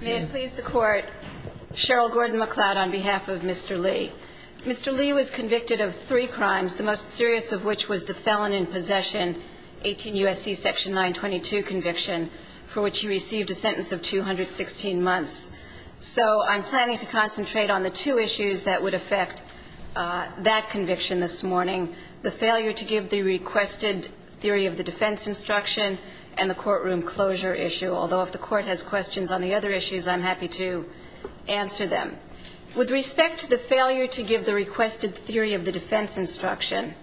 May it please the Court, Cheryl Gordon-McLeod on behalf of Mr. Lee. Mr. Lee was convicted of three crimes, the most serious of which was the Felon in Possession, 18 U.S.C. section 922 conviction, for which he received a sentence of 216 months. So I'm planning to concentrate on the two issues that would affect that conviction this morning, the failure to give the requested theory of the defense instruction and the courtroom closure issue, although if the Court has questions on the other issues, I'm happy to answer them. With respect to the failure to give the requested theory of the defense instruction,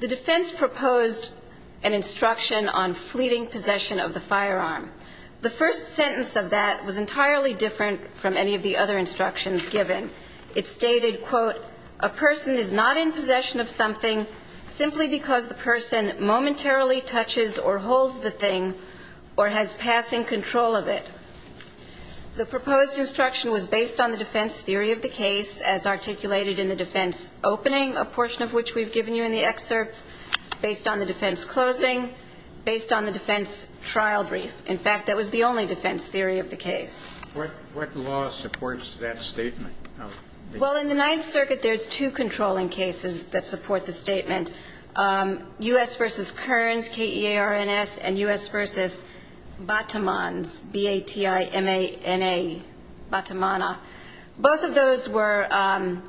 the defense proposed an instruction on fleeting possession of the firearm. The first sentence of that was entirely different from any of the other instructions given. It stated, quote, a person is not in possession of something simply because the person momentarily touches or holds the thing or has passing control of it. The proposed instruction was based on the defense theory of the case, as articulated in the defense opening, a portion of which we've given you in the excerpts, based on the defense closing, based on the defense trial brief. In fact, that was the only defense theory of the case. What law supports that statement? Well, in the Ninth Amendment, it doesn't support the statement. U.S. v. Kearns, K-E-A-R-N-S and U.S. v. Batamans, B-A-T-I-M-A-N-A, Batamana, both of those were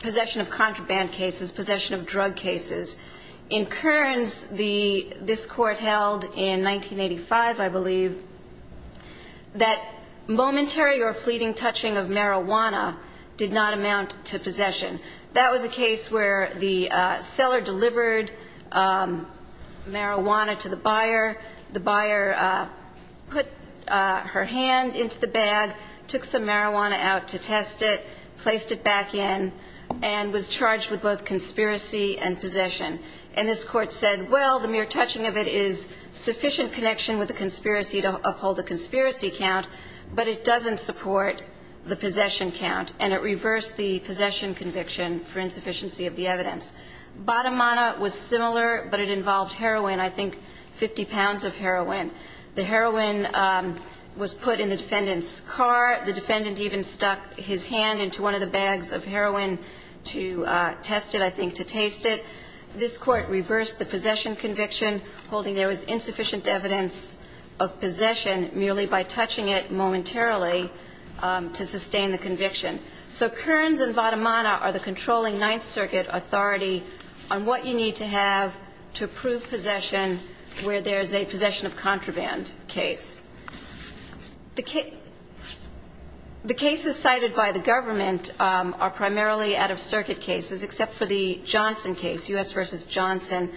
possession of contraband cases, possession of drug cases. In Kearns, this Court held in 1985, I believe, that momentary or fleeting possession of a drug case was a mere touching of the evidence. And the seller delivered marijuana to the buyer. The buyer put her hand into the bag, took some marijuana out to test it, placed it back in, and was charged with both conspiracy and possession. And this Court said, well, the mere touching of it is sufficient connection with the conspiracy to uphold the conspiracy count, but it doesn't support the possession count. And it reversed the possession conviction for insufficiency of the evidence. Batamana was similar, but it involved heroin, I think 50 pounds of heroin. The heroin was put in the defendant's car. The defendant even stuck his hand into one of the bags of heroin to test it, I think to taste it. This Court reversed the possession conviction, holding there was insufficient evidence of possession merely by touching it momentarily to sustain the conviction. So Kearns and Batamana are the controlling Ninth Circuit authority on what you need to have to prove possession where there is a possession of contraband case. The cases cited by the government are primarily out-of-circuit cases, except for the Johnson case, U.S. v. Johnson,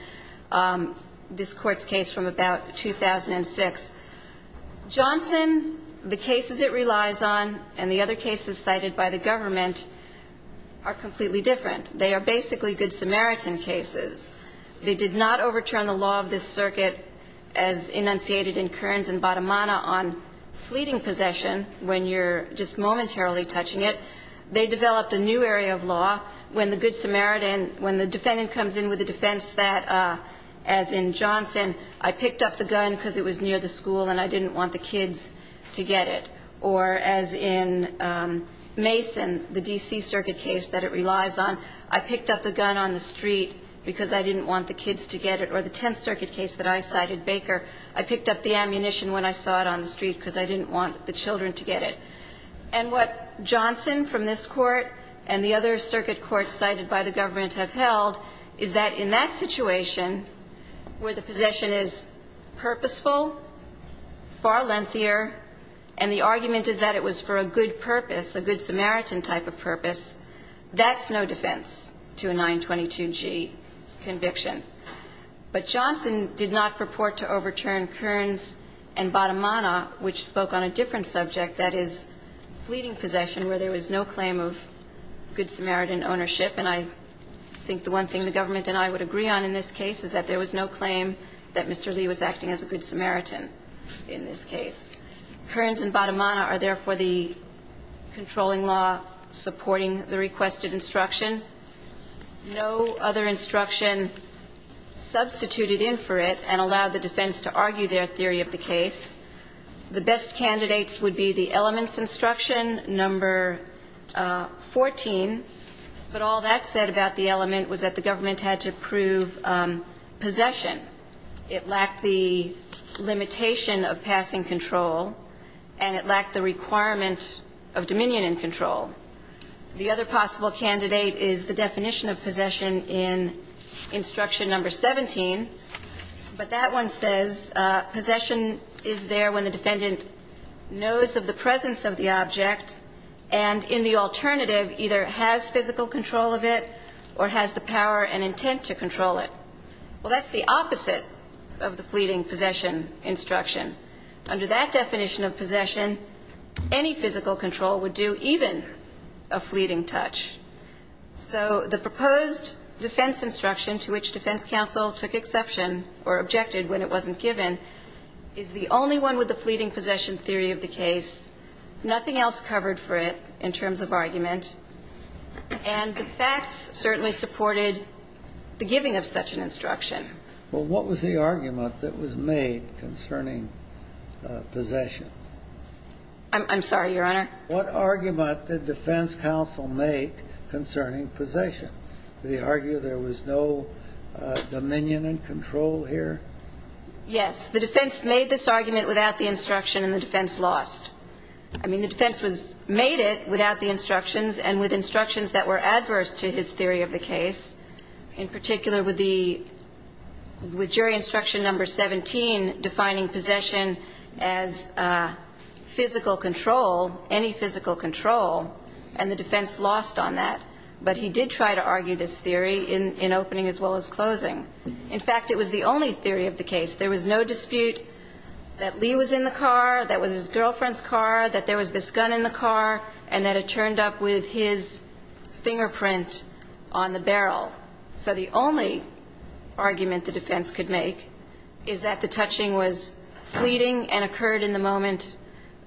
this Court's case from about 2006. Johnson, the cases it relies on, and the other cases cited by the government are completely different. They are basically Good Samaritan cases. They did not overturn the law of this circuit as enunciated in Kearns and Batamana on fleeting possession when you're just momentarily touching it. They developed a new area of law when the Good Samaritan, when the defendant comes in with a defense that, as in Mason, the D.C. circuit case that it relies on, I picked up the gun on the street because I didn't want the kids to get it, or the Tenth Circuit case that I cited, Baker, I picked up the ammunition when I saw it on the street because I didn't want the children to get it. And what Johnson from this Court and the other circuit courts cited by the government have held is that in that situation, where the argument is that it was for a good purpose, a Good Samaritan type of purpose, that's no defense to a 922G conviction. But Johnson did not purport to overturn Kearns and Batamana, which spoke on a different subject, that is, fleeting possession, where there was no claim of Good Samaritan ownership. And I think the one thing the government and I would agree on in this case is that there was no claim of Good Samaritan in this case. Kearns and Batamana are therefore the controlling law supporting the requested instruction. No other instruction substituted in for it and allowed the defense to argue their theory of the case. The best candidates would be the elements instruction, number 14, but all that said about the element was that the government had to prove possession. It lacked the limitation of passing control, and it lacked the requirement of dominion in control. The other possible candidate is the definition of possession in instruction number 17, but that one says possession is there when the defendant knows of the presence of the object and, in the alternative, either has physical control of it or has the power and intent to control it. Well, that's the opposite of the fleeting possession instruction. Under that definition of possession, any physical control would do even a fleeting touch. So the proposed defense instruction to which defense counsel took exception or objected when it wasn't given is the only one with the fleeting possession theory of the case, nothing else covered for it in terms of argument, and the facts certainly supported the giving of such an instruction. Well, what was the argument that was made concerning possession? I'm sorry, Your Honor? What argument did defense counsel make concerning possession? Did he argue there was no dominion in control here? Yes. The defense made this argument without the instruction, and the defense lost. I mean, the defense made it without the instructions and with instructions that were adverse to his theory of the case, in particular with the, with jury instruction number 17 defining possession as physical control, any physical control, and the defense lost on that. But he did try to argue this theory in opening as well as closing. In fact, it was the only theory of the case. There was no dispute that Lee was in the car, that was his girlfriend's car, that there was this gun in the car, and that it turned up with his fingerprint on the barrel. So the only argument the defense could make is that the touching was fleeting and occurred in the moment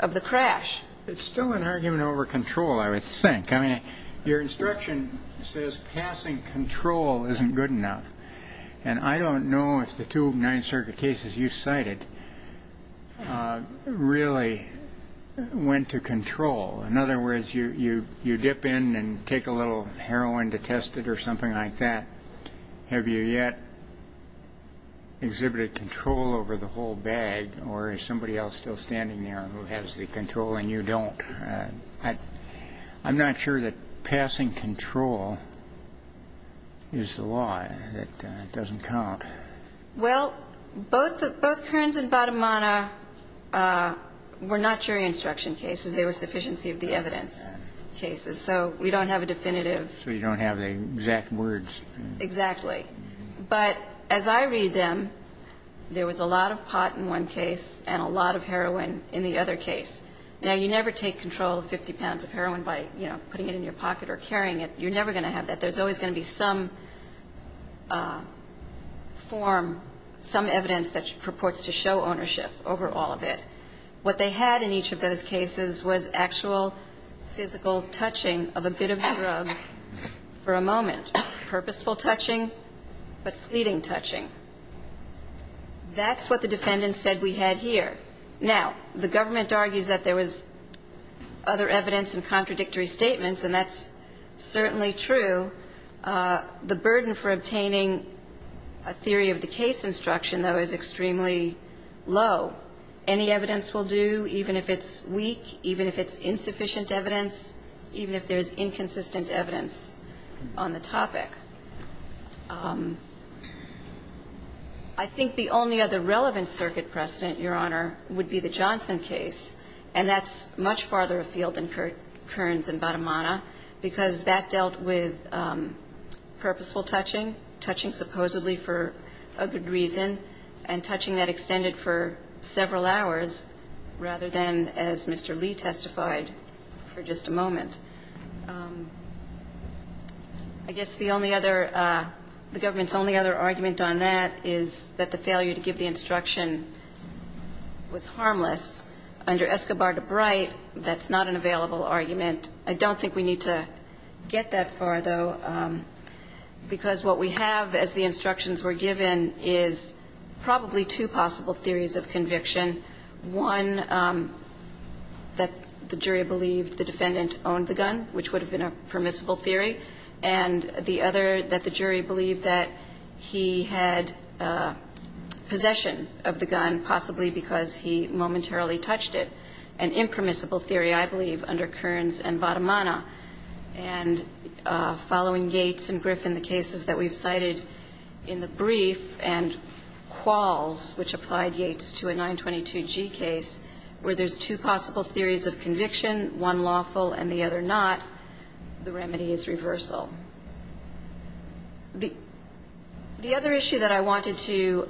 of the crash. It's still an argument over control, I would think. I mean, your instruction says passing control isn't good enough. And I don't know if the two Ninth Circuit cases you cited really went to control. In other words, you dip in and take a little heroin to test it or something like that. Have you yet exhibited control over the whole bag, or is somebody else still standing there who has the control and you don't? I'm not sure that passing control is the law, that it doesn't count. Well, both Kearns and Badamana were not jury instruction cases. They were sufficiency of the evidence cases. So we don't have a definitive So you don't have the exact words. Exactly. But as I read them, there was a lot of pot in one case and a lot of heroin in the other case. Now, you never take control of 50 pounds of heroin by putting it in your pocket or carrying it. You're never going to have that. There's always going to be some form, some evidence that purports to show ownership over all of it. What they had in each of those cases was actual physical touching of a bit of drug for a moment. Purposeful touching, but fleeting touching. That's what the defendant said we had here. Now, the government argues that there was other evidence and contradictory statements, and that's certainly true. The burden for obtaining a theory of the case instruction, though, is extremely low. Any evidence will do, even if it's weak, even if it's insufficient evidence, even if there's inconsistent evidence on the topic. I think the only other relevant circuit precedent, Your Honor, would be the Johnson case, and that's much farther afield than Kearns and Badamana, because that dealt with purposeful touching, touching supposedly for a good reason, and touching that extended for several hours rather than, as Mr. Lee testified, for just a moment. I guess the only other, the government's only other argument on that is that the failure to give the instruction was harmless. Under Escobar to Bright, that's not an available argument. I don't think we need to get that far, though, because what we have as the instructions were given is probably two possible theories of conviction. One that the jury believed the defendant owned the gun, which would have been a permissible theory, and the other that the jury believed that he had possession of the gun, possibly because he momentarily touched it, an impermissible theory, I believe, under Kearns and Badamana. And following Yates and Griffin, the cases that we've cited in the brief and Qualls, which applied Yates to a 922G case, where there's two possible theories of conviction, one lawful and the other not, the remedy is reversal. The other issue that I wanted to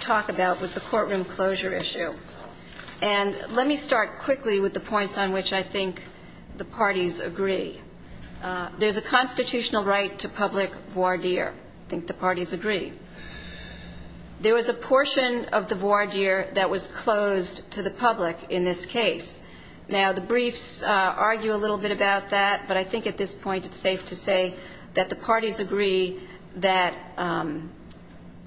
talk about was the courtroom closure issue. And let me start quickly with the points on which I think the parties agree. There's a portion of the voir dire that was closed to the public in this case. Now, the briefs argue a little bit about that, but I think at this point it's safe to say that the parties agree that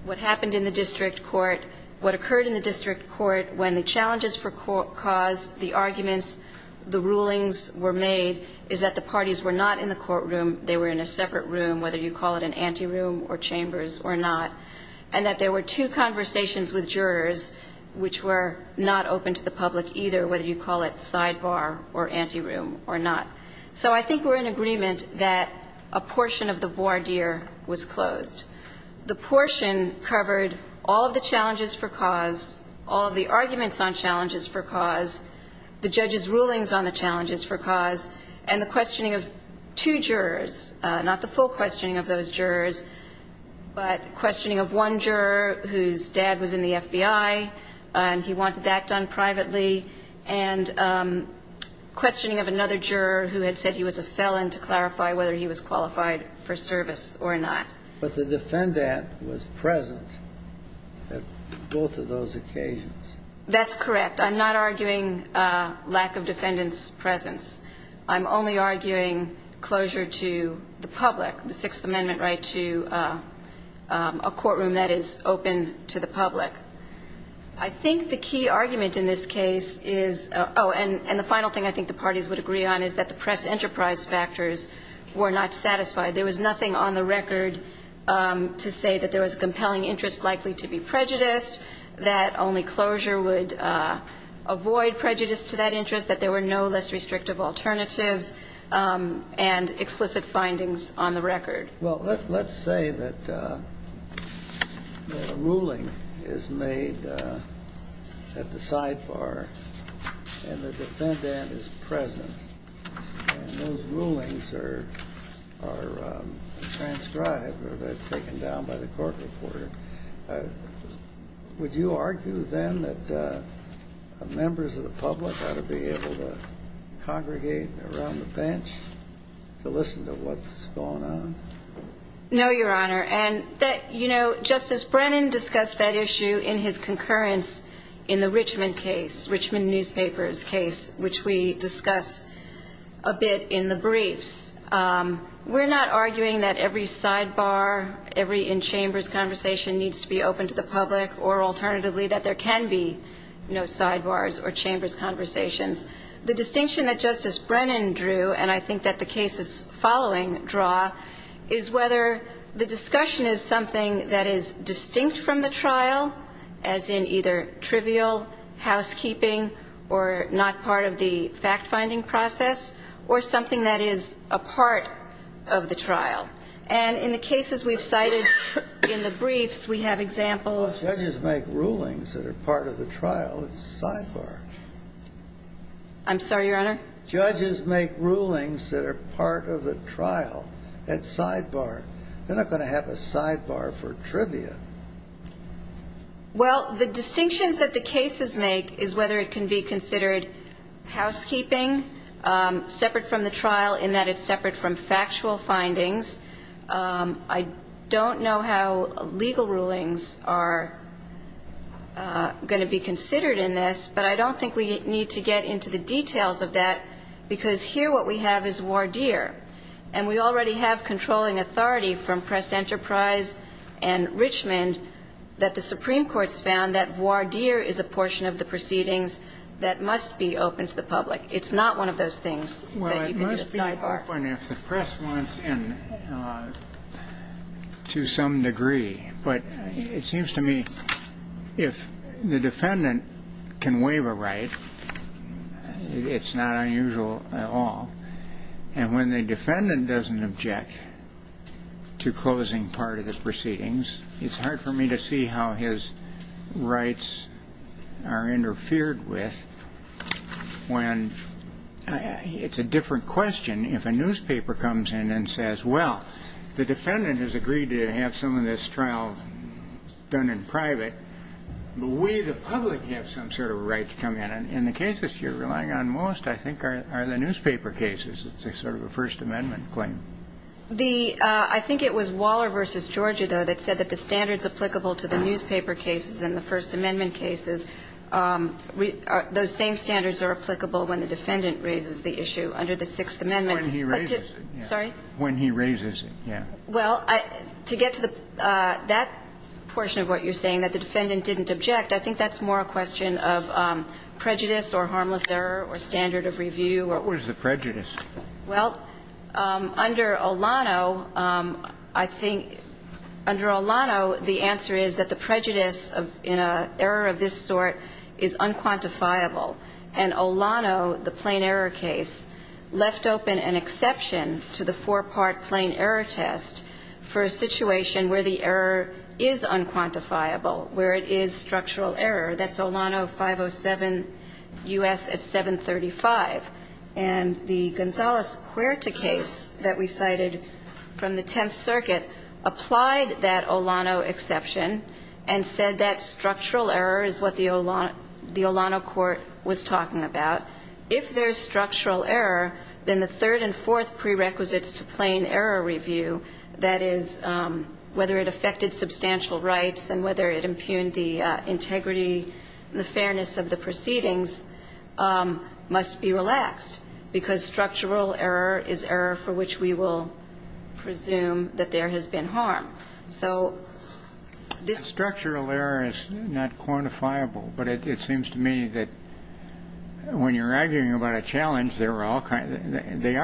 what happened in the district court, what occurred in the district court when the challenges for cause, the arguments, the rulings were made, is that the parties were not in the courtroom. They were in a separate room, whether you call it an anteroom or chambers or not, and that there were two conversations with jurors which were not open to the public either, whether you call it sidebar or anteroom or not. So I think we're in agreement that a portion of the voir dire was closed. The portion covered all of the challenges for cause, all of the arguments on challenges for cause, the judge's rulings on the challenges for cause, and the questioning of two jurors, not the full questioning of those jurors, but questioning of one juror whose dad was in the FBI, and he wanted that done privately, and questioning of another juror who had said he was a felon to clarify whether he was qualified for service or not. But the defendant was present at both of those occasions. That's correct. I'm not arguing lack of defendant's presence. I'm only arguing closure to the public, the Sixth Amendment right to a courtroom that is open to the public. I think the key argument in this case is oh, and the final thing I think the parties would agree on is that the press enterprise factors were not satisfied. There was nothing on the record to say that there was compelling interest likely to be prejudiced, that only closure would avoid prejudice to that interest, that there were no less restrictive alternatives, and explicit findings on the record. Well, let's say that a ruling is made at the sidebar and the defendant is present, and those rulings are transcribed or taken down by the court reporter. Would you argue then that members of the public ought to be able to congregate around the bench to listen to what's going on? No, Your Honor. And that, you know, Justice Brennan discussed that issue in his concurrence in the Richmond case, Richmond newspapers case, which we discuss a bit in the briefs. We're not arguing that every sidebar, every in-chambers conversation needs to be open to the public, or alternatively that there can be, you know, sidebars or chambers conversations. The distinction that Justice Brennan drew, and I think that the cases following draw, is whether the discussion is something that is distinct from the trial, as in either trivial housekeeping or not part of the fact-finding process, or something that is a part of the trial. And in the cases we've cited in the briefs, we have examples. Judges make rulings that are part of the trial at the sidebar. I'm sorry, Your Honor? Judges make rulings that are part of the trial at sidebar. They're not going to have a sidebar for trivia. Well, the distinctions that the cases make is whether it can be considered housekeeping, separate from the trial in that it's separate from factual findings. I don't know how legal rulings are going to be considered in this, but I don't think we need to get into the details of that, because here what we have is voir dire. And we already have controlling authority from Press Enterprise and Richmond that the Supreme Court's found that voir dire is a portion of the proceedings that must be open to the public. It's not one of those things that you can do at sidebar. Well, it must be open if the press wants in to some degree. But it seems to me if the defendant can waive a right, it's not unusual at all. And when the defendant doesn't object to closing part of the proceedings, it's hard for me to see how his rights are interfered with when it's a different question if a newspaper comes in and says, well, the defendant has agreed to have some of this trial done in private, but we the public have some sort of right to come in. And the cases you're relying on most, I think, are the newspaper cases. It's sort of a First Amendment claim. I think it was Waller v. Georgia, though, that said that the standards applicable to the newspaper cases and the First Amendment cases, those same standards are applicable when the defendant raises the issue under the Sixth Amendment. When he raises it. Sorry? When he raises it, yeah. Well, to get to that portion of what you're saying, that the defendant didn't object, I think that's more a question of prejudice or harmless error or standard of review. What was the prejudice? Well, under Olano, I think under Olano, the answer is that the prejudice in an error of this sort is unquantifiable. And Olano, the plain error case, left open an exception to the four-part plain error test for a situation where the error is unquantifiable, where it is structural error. That's Olano 507 U.S. at 735. And the Gonzales-Cuerta case that we cited from the Tenth Circuit applied that Olano exception and said that structural error is what the Olano court was talking about. If there's structural error, then the third and fourth prerequisites to plain error review, that is, whether it affected substantial rights and whether it impugned the integrity and the fairness of the proceedings, must be relaxed, because structural error is error for which we will presume that there has been harm. So this... Structural error is not quantifiable, but it seems to me that when you're arguing about a challenge, they are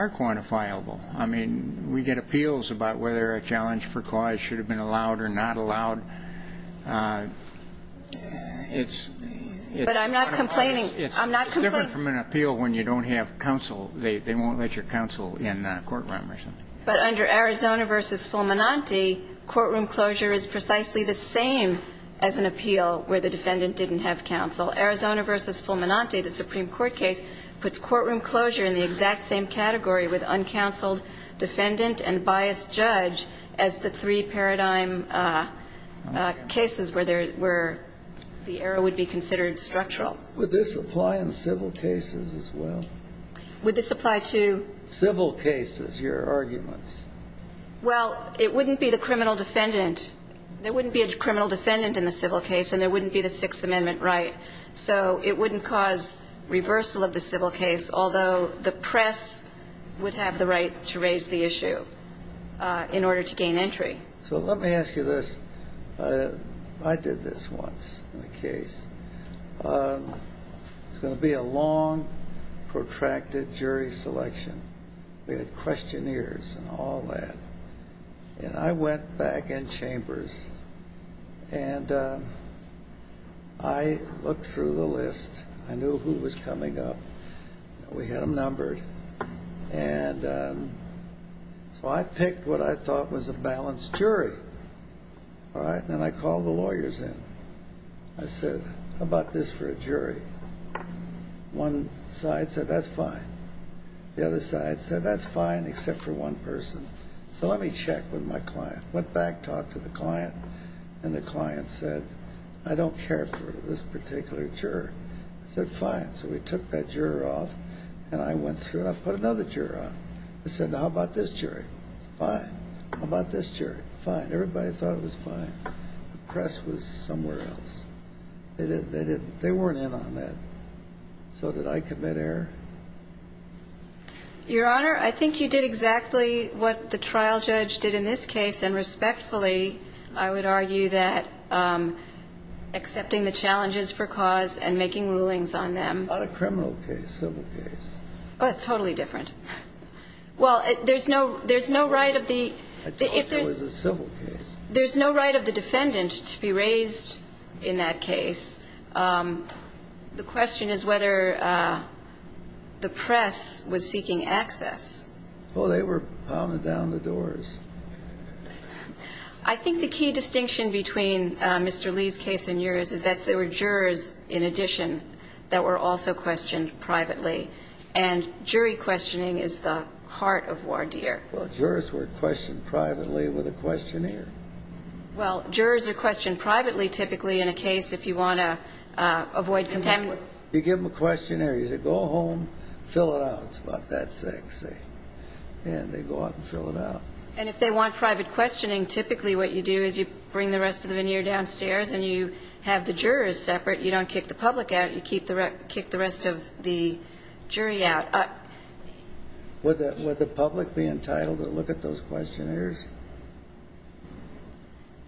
quantifiable. I mean, we get appeals about whether a challenge for cause should have been allowed or not allowed. It's... But I'm not complaining. It's different from an appeal when you don't have counsel. They won't let your counsel in a courtroom or something. But under Arizona v. Fulminante, courtroom closure is precisely the same as an appeal where the defendant didn't have counsel. Arizona v. Fulminante, the Supreme Court case, puts courtroom closure in the exact same category with uncounseled defendant and biased judge as the three paradigm cases where the error would be considered structural. Would this apply in civil cases as well? Would this apply to... Well, it wouldn't be the criminal defendant. There wouldn't be a criminal defendant in the civil case, and there wouldn't be the Sixth Amendment right. So it wouldn't cause reversal of the civil case, although the press would have the right to raise the issue in order to gain entry. So let me ask you this. I did this once in a case. It was going to be a long, protracted jury selection. We had questionnaires and all that. And I went back in chambers, and I looked through the list. I knew who was coming up. We had them numbered. And so I picked what I thought was a balanced jury, all right? And I called the lawyers in. I said, how about this for a jury? One side said, that's fine. The other side said, that's fine except for one person. So let me check with my client. Went back, talked to the client, and the client said, I don't care for this particular juror. I said, fine. So we took that juror off, and I went through, and I put another juror on. I said, now how about this jury? Fine. How about this jury? Fine. Everybody thought it was fine. The press was somewhere else. They didn't. They weren't in on that. So did I commit error? Your Honor, I think you did exactly what the trial judge did in this case. And respectfully, I would argue that accepting the challenges for cause and making rulings on them. Not a criminal case, civil case. Oh, it's totally different. Well, there's no right of the defendant to be raised in that case. The question is whether the press was seeking access. Oh, they were pounding down the doors. I think the key distinction between Mr. Lee's case and yours is that there were jurors in addition that were also questioned privately. And jury questioning is the heart of voir dire. Well, jurors were questioned privately with a questionnaire. Well, jurors are questioned privately typically in a case if you want to avoid contamination. You give them a questionnaire. You say, go home, fill it out. It's about that thick, see? And they go out and fill it out. And if they want private questioning, typically what you do is you bring the rest of the veneer downstairs and you have the jurors separate. You don't kick the public out. You kick the rest of the jury out. Would the public be entitled to look at those questionnaires?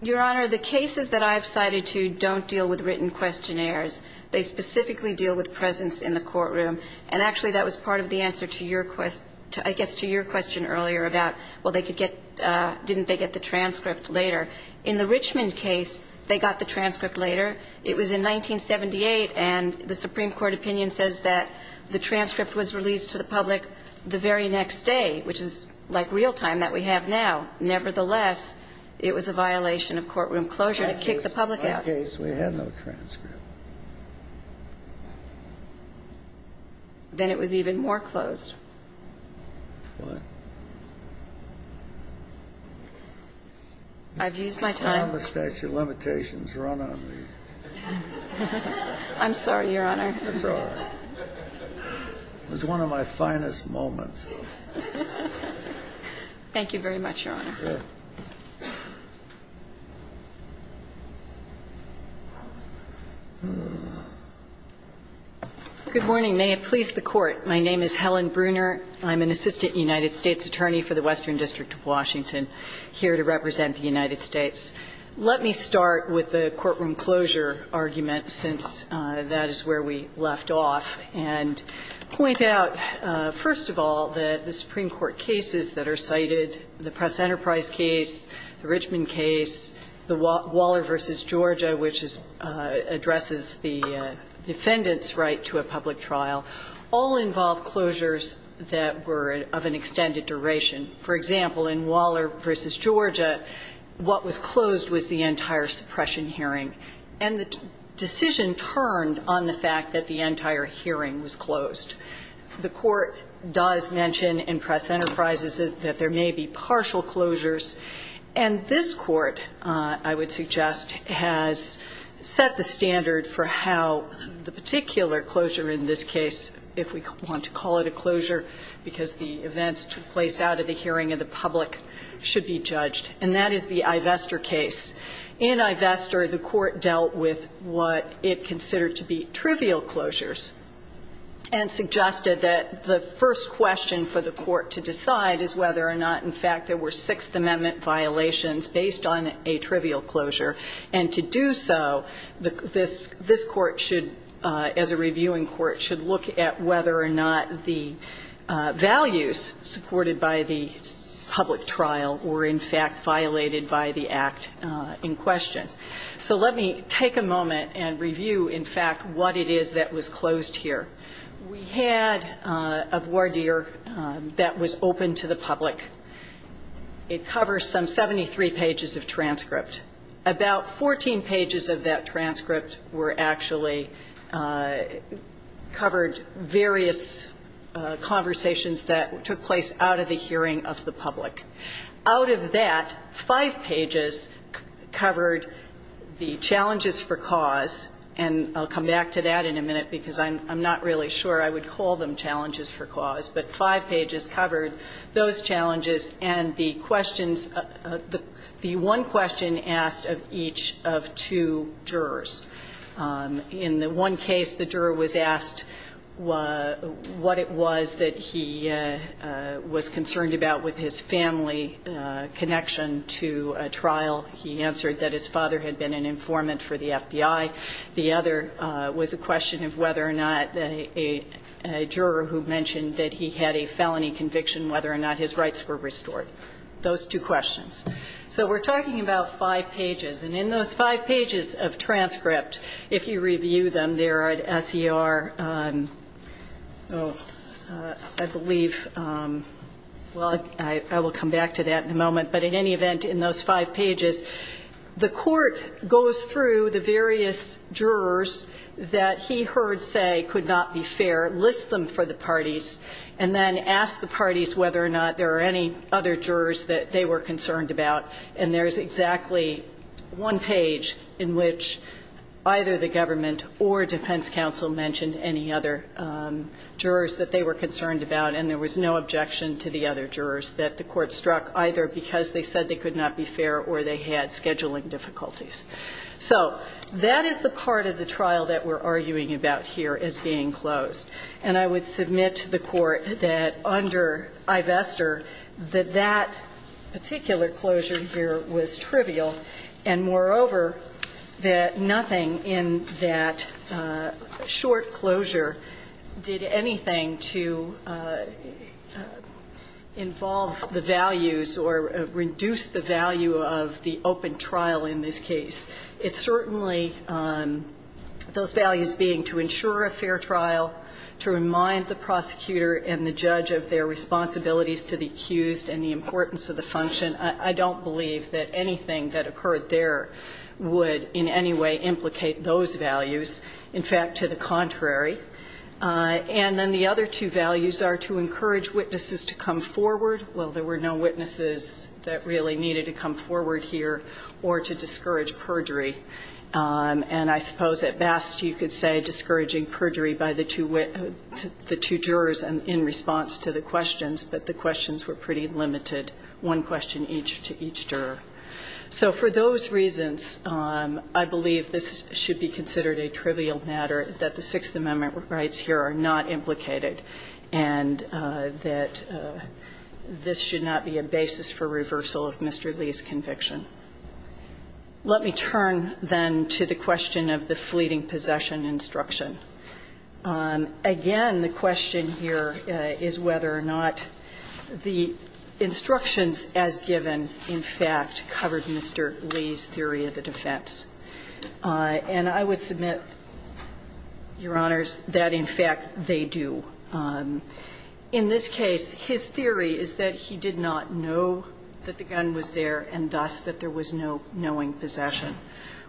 Your Honor, the cases that I've cited to don't deal with written questionnaires. They specifically deal with presence in the courtroom. And actually, that was part of the answer to your question earlier about, well, didn't they get the transcript later? In the Richmond case, they got the transcript later. It was in 1978. And the Supreme Court opinion says that the transcript was released to the public the very next day, which is like real time that we have now. Nevertheless, it was a violation of courtroom closure to kick the public out. In that case, we had no transcript. Then it was even more closed. What? I've used my time. How have the statute of limitations run on me? I'm sorry, Your Honor. I'm sorry. It was one of my finest moments. Thank you very much, Your Honor. Good morning. May it please the Court. My name is Helen Bruner. I'm an assistant United States attorney for the Western District of Washington, here to represent the United States. Let me start with the courtroom closure argument, since that is where we left off, and point out, first of all, that the Supreme Court cases that are cited, the Press Enterprise case, the Richmond case, the Waller v. Georgia, which addresses the defendant's right to a public trial, all involve closures that were of an extended duration. For example, in Waller v. Georgia, what was closed was the entire suppression hearing. And the decision turned on the fact that the entire hearing was closed. The Court does mention in Press Enterprises that there may be partial closures. And this Court, I would suggest, has set the standard for how the particular closure in this case, if we want to call it a closure, because the events took place out of the hearing of the public, should be judged. And that is the Ivestor case. In Ivestor, the Court dealt with what it considered to be trivial closures. And suggested that the first question for the Court to decide is whether or not, in fact, there were Sixth Amendment violations based on a trivial closure. And to do so, this Court should, as a reviewing Court, should look at whether or not the values supported by the public trial were, in fact, violated by the act in question. So let me take a moment and review, in fact, what it is that was closed here. We had a voir dire that was open to the public. It covers some 73 pages of transcript. About 14 pages of that transcript were actually...covered various conversations that took place out of the hearing of the public. Out of that, five pages covered the challenges for cause, and I'll come back to that in a minute because I'm not really sure I would call them challenges for cause. But five pages covered those challenges and the questions... the one question asked of each of two jurors. In the one case, the juror was asked what it was that he was concerned about with his family connection to a trial. He answered that his father had been an informant for the FBI. The other was a question of whether or not a juror who mentioned that he had a felony conviction, whether or not his rights were restored. Those two questions. So we're talking about five pages, and in those five pages of transcript, if you review them, they're at SER... I believe... Well, I will come back to that in a moment, but in any event, in those five pages, the court goes through the various jurors that he heard say could not be fair, lists them for the parties, and then asks the parties whether or not there are any other jurors that they were concerned about. And there's exactly one page in which either the government or defense counsel mentioned any other jurors that they were concerned about, and there was no objection to the other jurors that the court struck, either because they said they could not be fair or they had scheduling difficulties. So that is the part of the trial that we're arguing about here as being closed. And I would submit to the court that under Ivestor that that particular closure here was trivial, and moreover, that nothing in that short closure did anything to involve the values or reduce the value of the open trial in this case. It certainly... Those values being to ensure a fair trial, to remind the prosecutor and the judge of their responsibilities to the accused and the importance of the function. I don't believe that anything that occurred there would in any way implicate those values. In fact, to the contrary. And then the other two values are to encourage witnesses to come forward. Well, there were no witnesses that really needed to come forward here or to discourage perjury. And I suppose at best you could say discouraging perjury by the two jurors in response to the questions, but the questions were pretty limited, one question each to each juror. So for those reasons, I believe this should be considered a trivial matter, that the Sixth Amendment rights here are not implicated and that this should not be a basis for reversal of Mr. Lee's conviction. Let me turn then to the question of the fleeting possession instruction. Again, the question here is whether or not the instructions as given in fact covered Mr. Lee's theory of the defense. And I would submit, Your Honors, that in fact they do. In this case, his theory is that he did not know that the gun was there and thus that there was no knowing possession.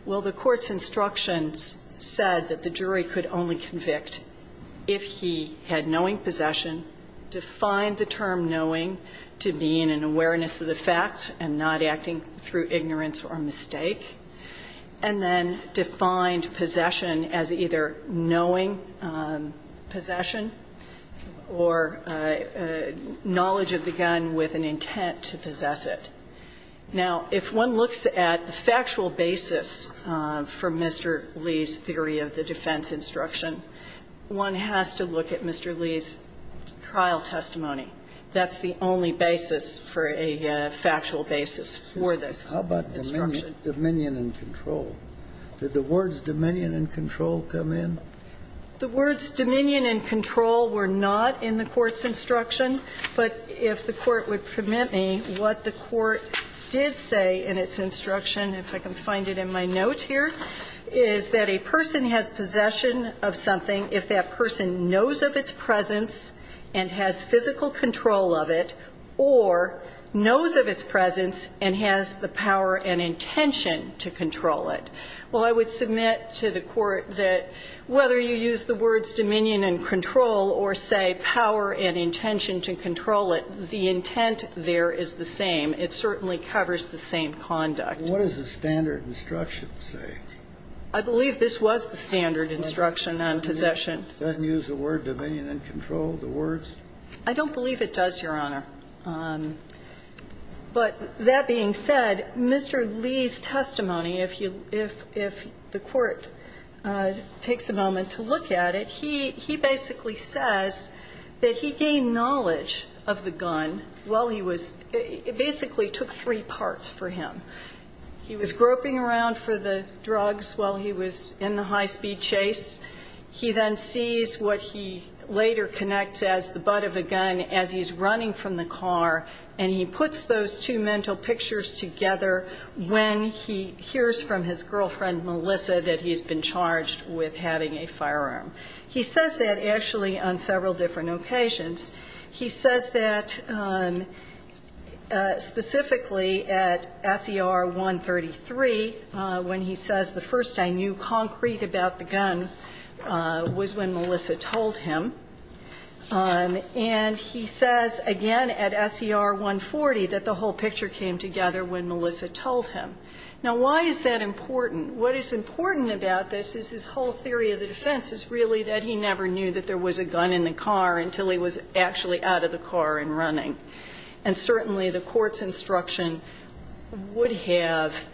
Well, the court's instructions said that the jury could only convict if he had knowing possession, defined the term knowing to mean an awareness of the fact and not acting through ignorance or mistake, and then defined possession as either knowing possession or knowledge of the gun with an intent to possess it. Now, if one looks at the factual basis for Mr. Lee's theory of the defense instruction, one has to look at Mr. Lee's trial testimony. That's the only basis for a factual basis for this instruction. How about dominion and control? Did the words dominion and control come in? The words dominion and control were not in the court's instruction, but if the court would permit me, what the court did say in its instruction, if I can find it in my note here, is that a person has possession of something if that person knows of its presence and has physical control of it or knows of its presence and has the power and intention to control it. Well, I would submit to the court that whether you use the words dominion and control or say power and intention to control it, the intent there is the same. It certainly covers the same conduct. What does the standard instruction say? I believe this was the standard instruction on possession. Doesn't it use the word dominion and control, the words? I don't believe it does, Your Honor. But that being said, Mr. Lee's testimony, if the court takes a moment to look at it, he basically says that he gained knowledge of the gun while he was... It basically took three parts for him. He was groping around for the drugs while he was in the high-speed chase. He then sees what he later connects as the butt of the gun as he's running from the car and he puts those two mental pictures together when he hears from his girlfriend, Melissa, that he's been charged with having a firearm. He says that, actually, on several different occasions. He says that specifically at S.E.R. 133 when he says, the first I knew concrete about the gun was when Melissa told him. And he says, again, at S.E.R. 140 that the whole picture came together when Melissa told him. Now, why is that important? What is important about this is his whole theory of the defense is really that he never knew that there was a gun in the car until he was actually out of the car and running. And certainly the court's instruction would have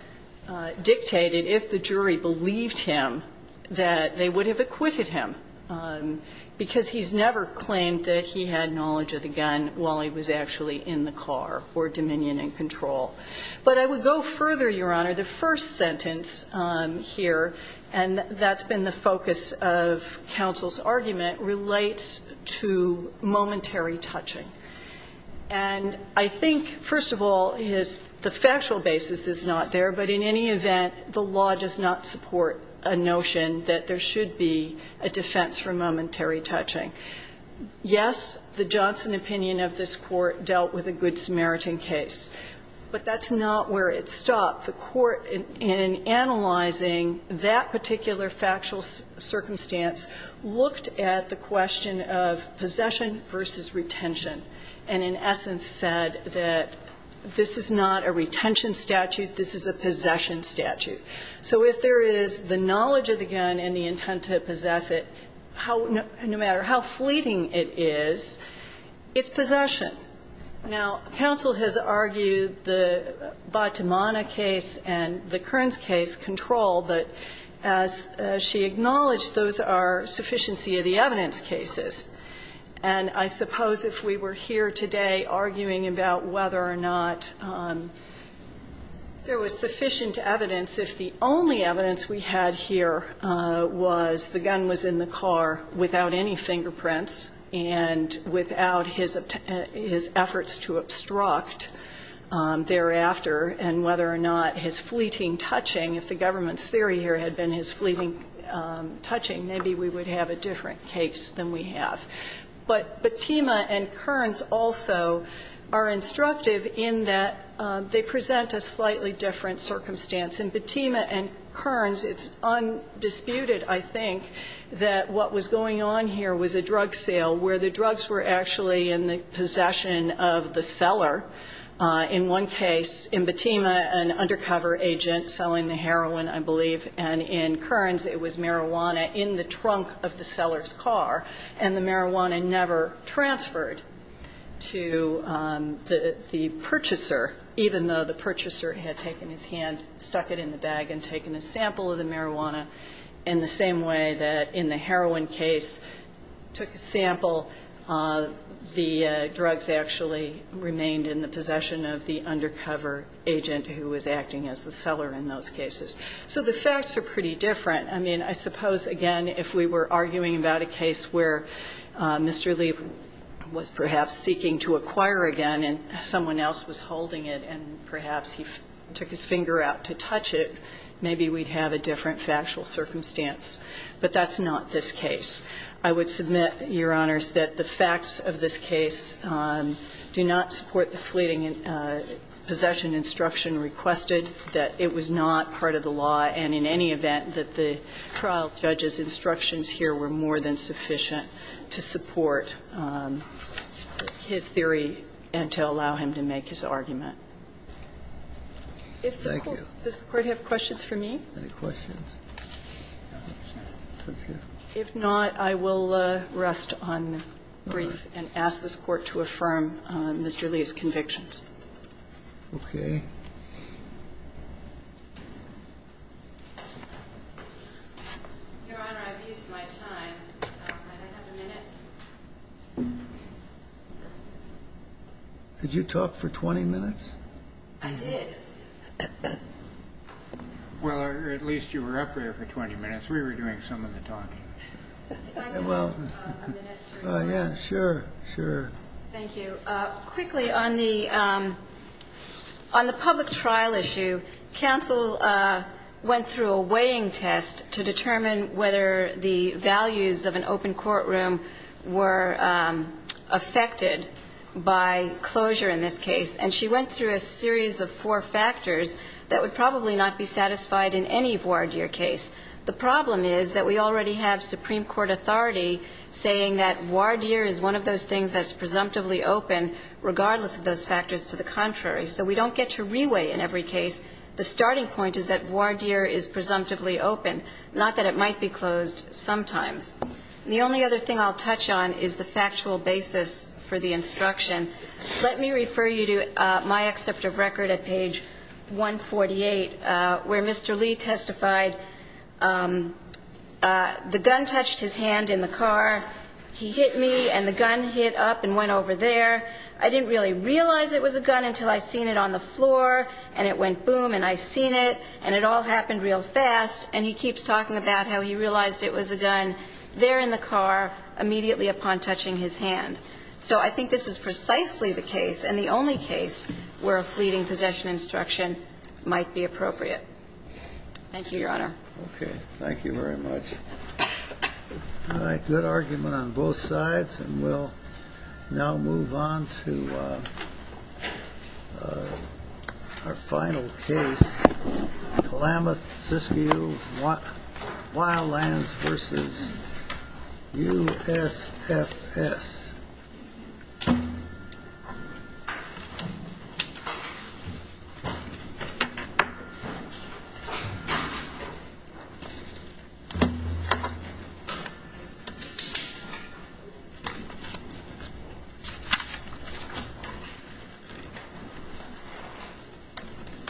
dictated, if the jury believed him, that they would have acquitted him because he's never claimed that he had knowledge of the gun while he was actually in the car for dominion and control. But I would go further, Your Honor. The first sentence here, and that's been the focus of counsel's argument, relates to momentary touching. And I think, first of all, the factual basis is not there, but in any event, the law does not support a notion that there should be a defense for momentary touching. Yes, the Johnson opinion of this Court dealt with a good Samaritan case, but that's not where it stopped. The Court, in analyzing that particular factual circumstance, looked at the question of possession versus retention and, in essence, said that this is not a retention statute, this is a possession statute. So if there is the knowledge of the gun and the intent to possess it, no matter how fleeting it is, it's possession. Now, counsel has argued the Batamana case and the Kearns case, control, but as she acknowledged, those are sufficiency of the evidence cases. And I suppose if we were here today arguing about whether or not there was sufficient evidence if the only evidence we had here was the gun was in the car without any fingerprints and without his efforts to obstruct thereafter and whether or not his fleeting touching, if the government's theory here had been his fleeting touching, maybe we would have a different case than we have. But Batema and Kearns also are instructive in that they present a slightly different circumstance. In Batema and Kearns, it's undisputed, I think, that what was going on here was a drug sale where the drugs were actually in the possession of the seller. In one case, in Batema, an undercover agent selling the heroin, I believe, and in Kearns, it was marijuana in the trunk of the seller's car and the marijuana never transferred to the purchaser, even though the purchaser had taken his hand, stuck it in the bag and taken a sample of the marijuana in the same way that in the heroin case, took a sample, the drugs actually remained in the possession of the undercover agent who was acting as the seller in those cases. So the facts are pretty different. I mean, I suppose, again, if we were arguing about a case where Mr. Lee was perhaps seeking to acquire again and someone else was holding it and perhaps he took his finger out to touch it, maybe we'd have a different factual circumstance. But that's not this case. I would submit, Your Honors, that the facts of this case do not support the fleeting possession instruction requested, that it was not part of the law, and in any event, that the trial judge's instructions here were more than sufficient to support his theory and to allow him to make his argument. Thank you. Does the Court have questions for me? Any questions? If not, I will rest on grief and ask this Court to affirm Mr. Lee's convictions. Okay. Your Honor, I've used my time. Can I have a minute? Did you talk for 20 minutes? I did. Well, at least you were up there for 20 minutes. We were doing some of the talking. Can I give you a minute? Yeah, sure, sure. Thank you. Quickly, on the public trial issue, counsel went through a weighing test to determine whether the values of an open courtroom were affected by closure in this case, and she went through a series of four factors that would probably not be satisfied in any voir dire case. The problem is that we already have Supreme Court authority saying that voir dire is one of those things that's presumptively open, regardless of those factors to the contrary. So we don't get to re-weigh in every case. The starting point is that voir dire is presumptively open. Not that it might be closed sometimes. The only other thing I'll touch on is the factual basis for the instruction. Let me refer you to my excerpt of record at page 148, where Mr. Lee testified, the gun touched his hand in the car, he hit me, and the gun hit up and went over there. I didn't really realize it was a gun until I seen it on the floor, and it went boom, and I seen it, and it all happened real fast, and he keeps talking about how he realized it was a gun there in the car immediately upon touching his hand. So I think this is precisely the case, and the only case, where a fleeting possession instruction might be appropriate. Thank you, Your Honor. Okay. Thank you very much. All right. Good argument on both sides, and we'll now move on to our final case, Kalamath Siskiyou Wildlands v. USFS. Thank you,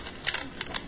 Your Honor.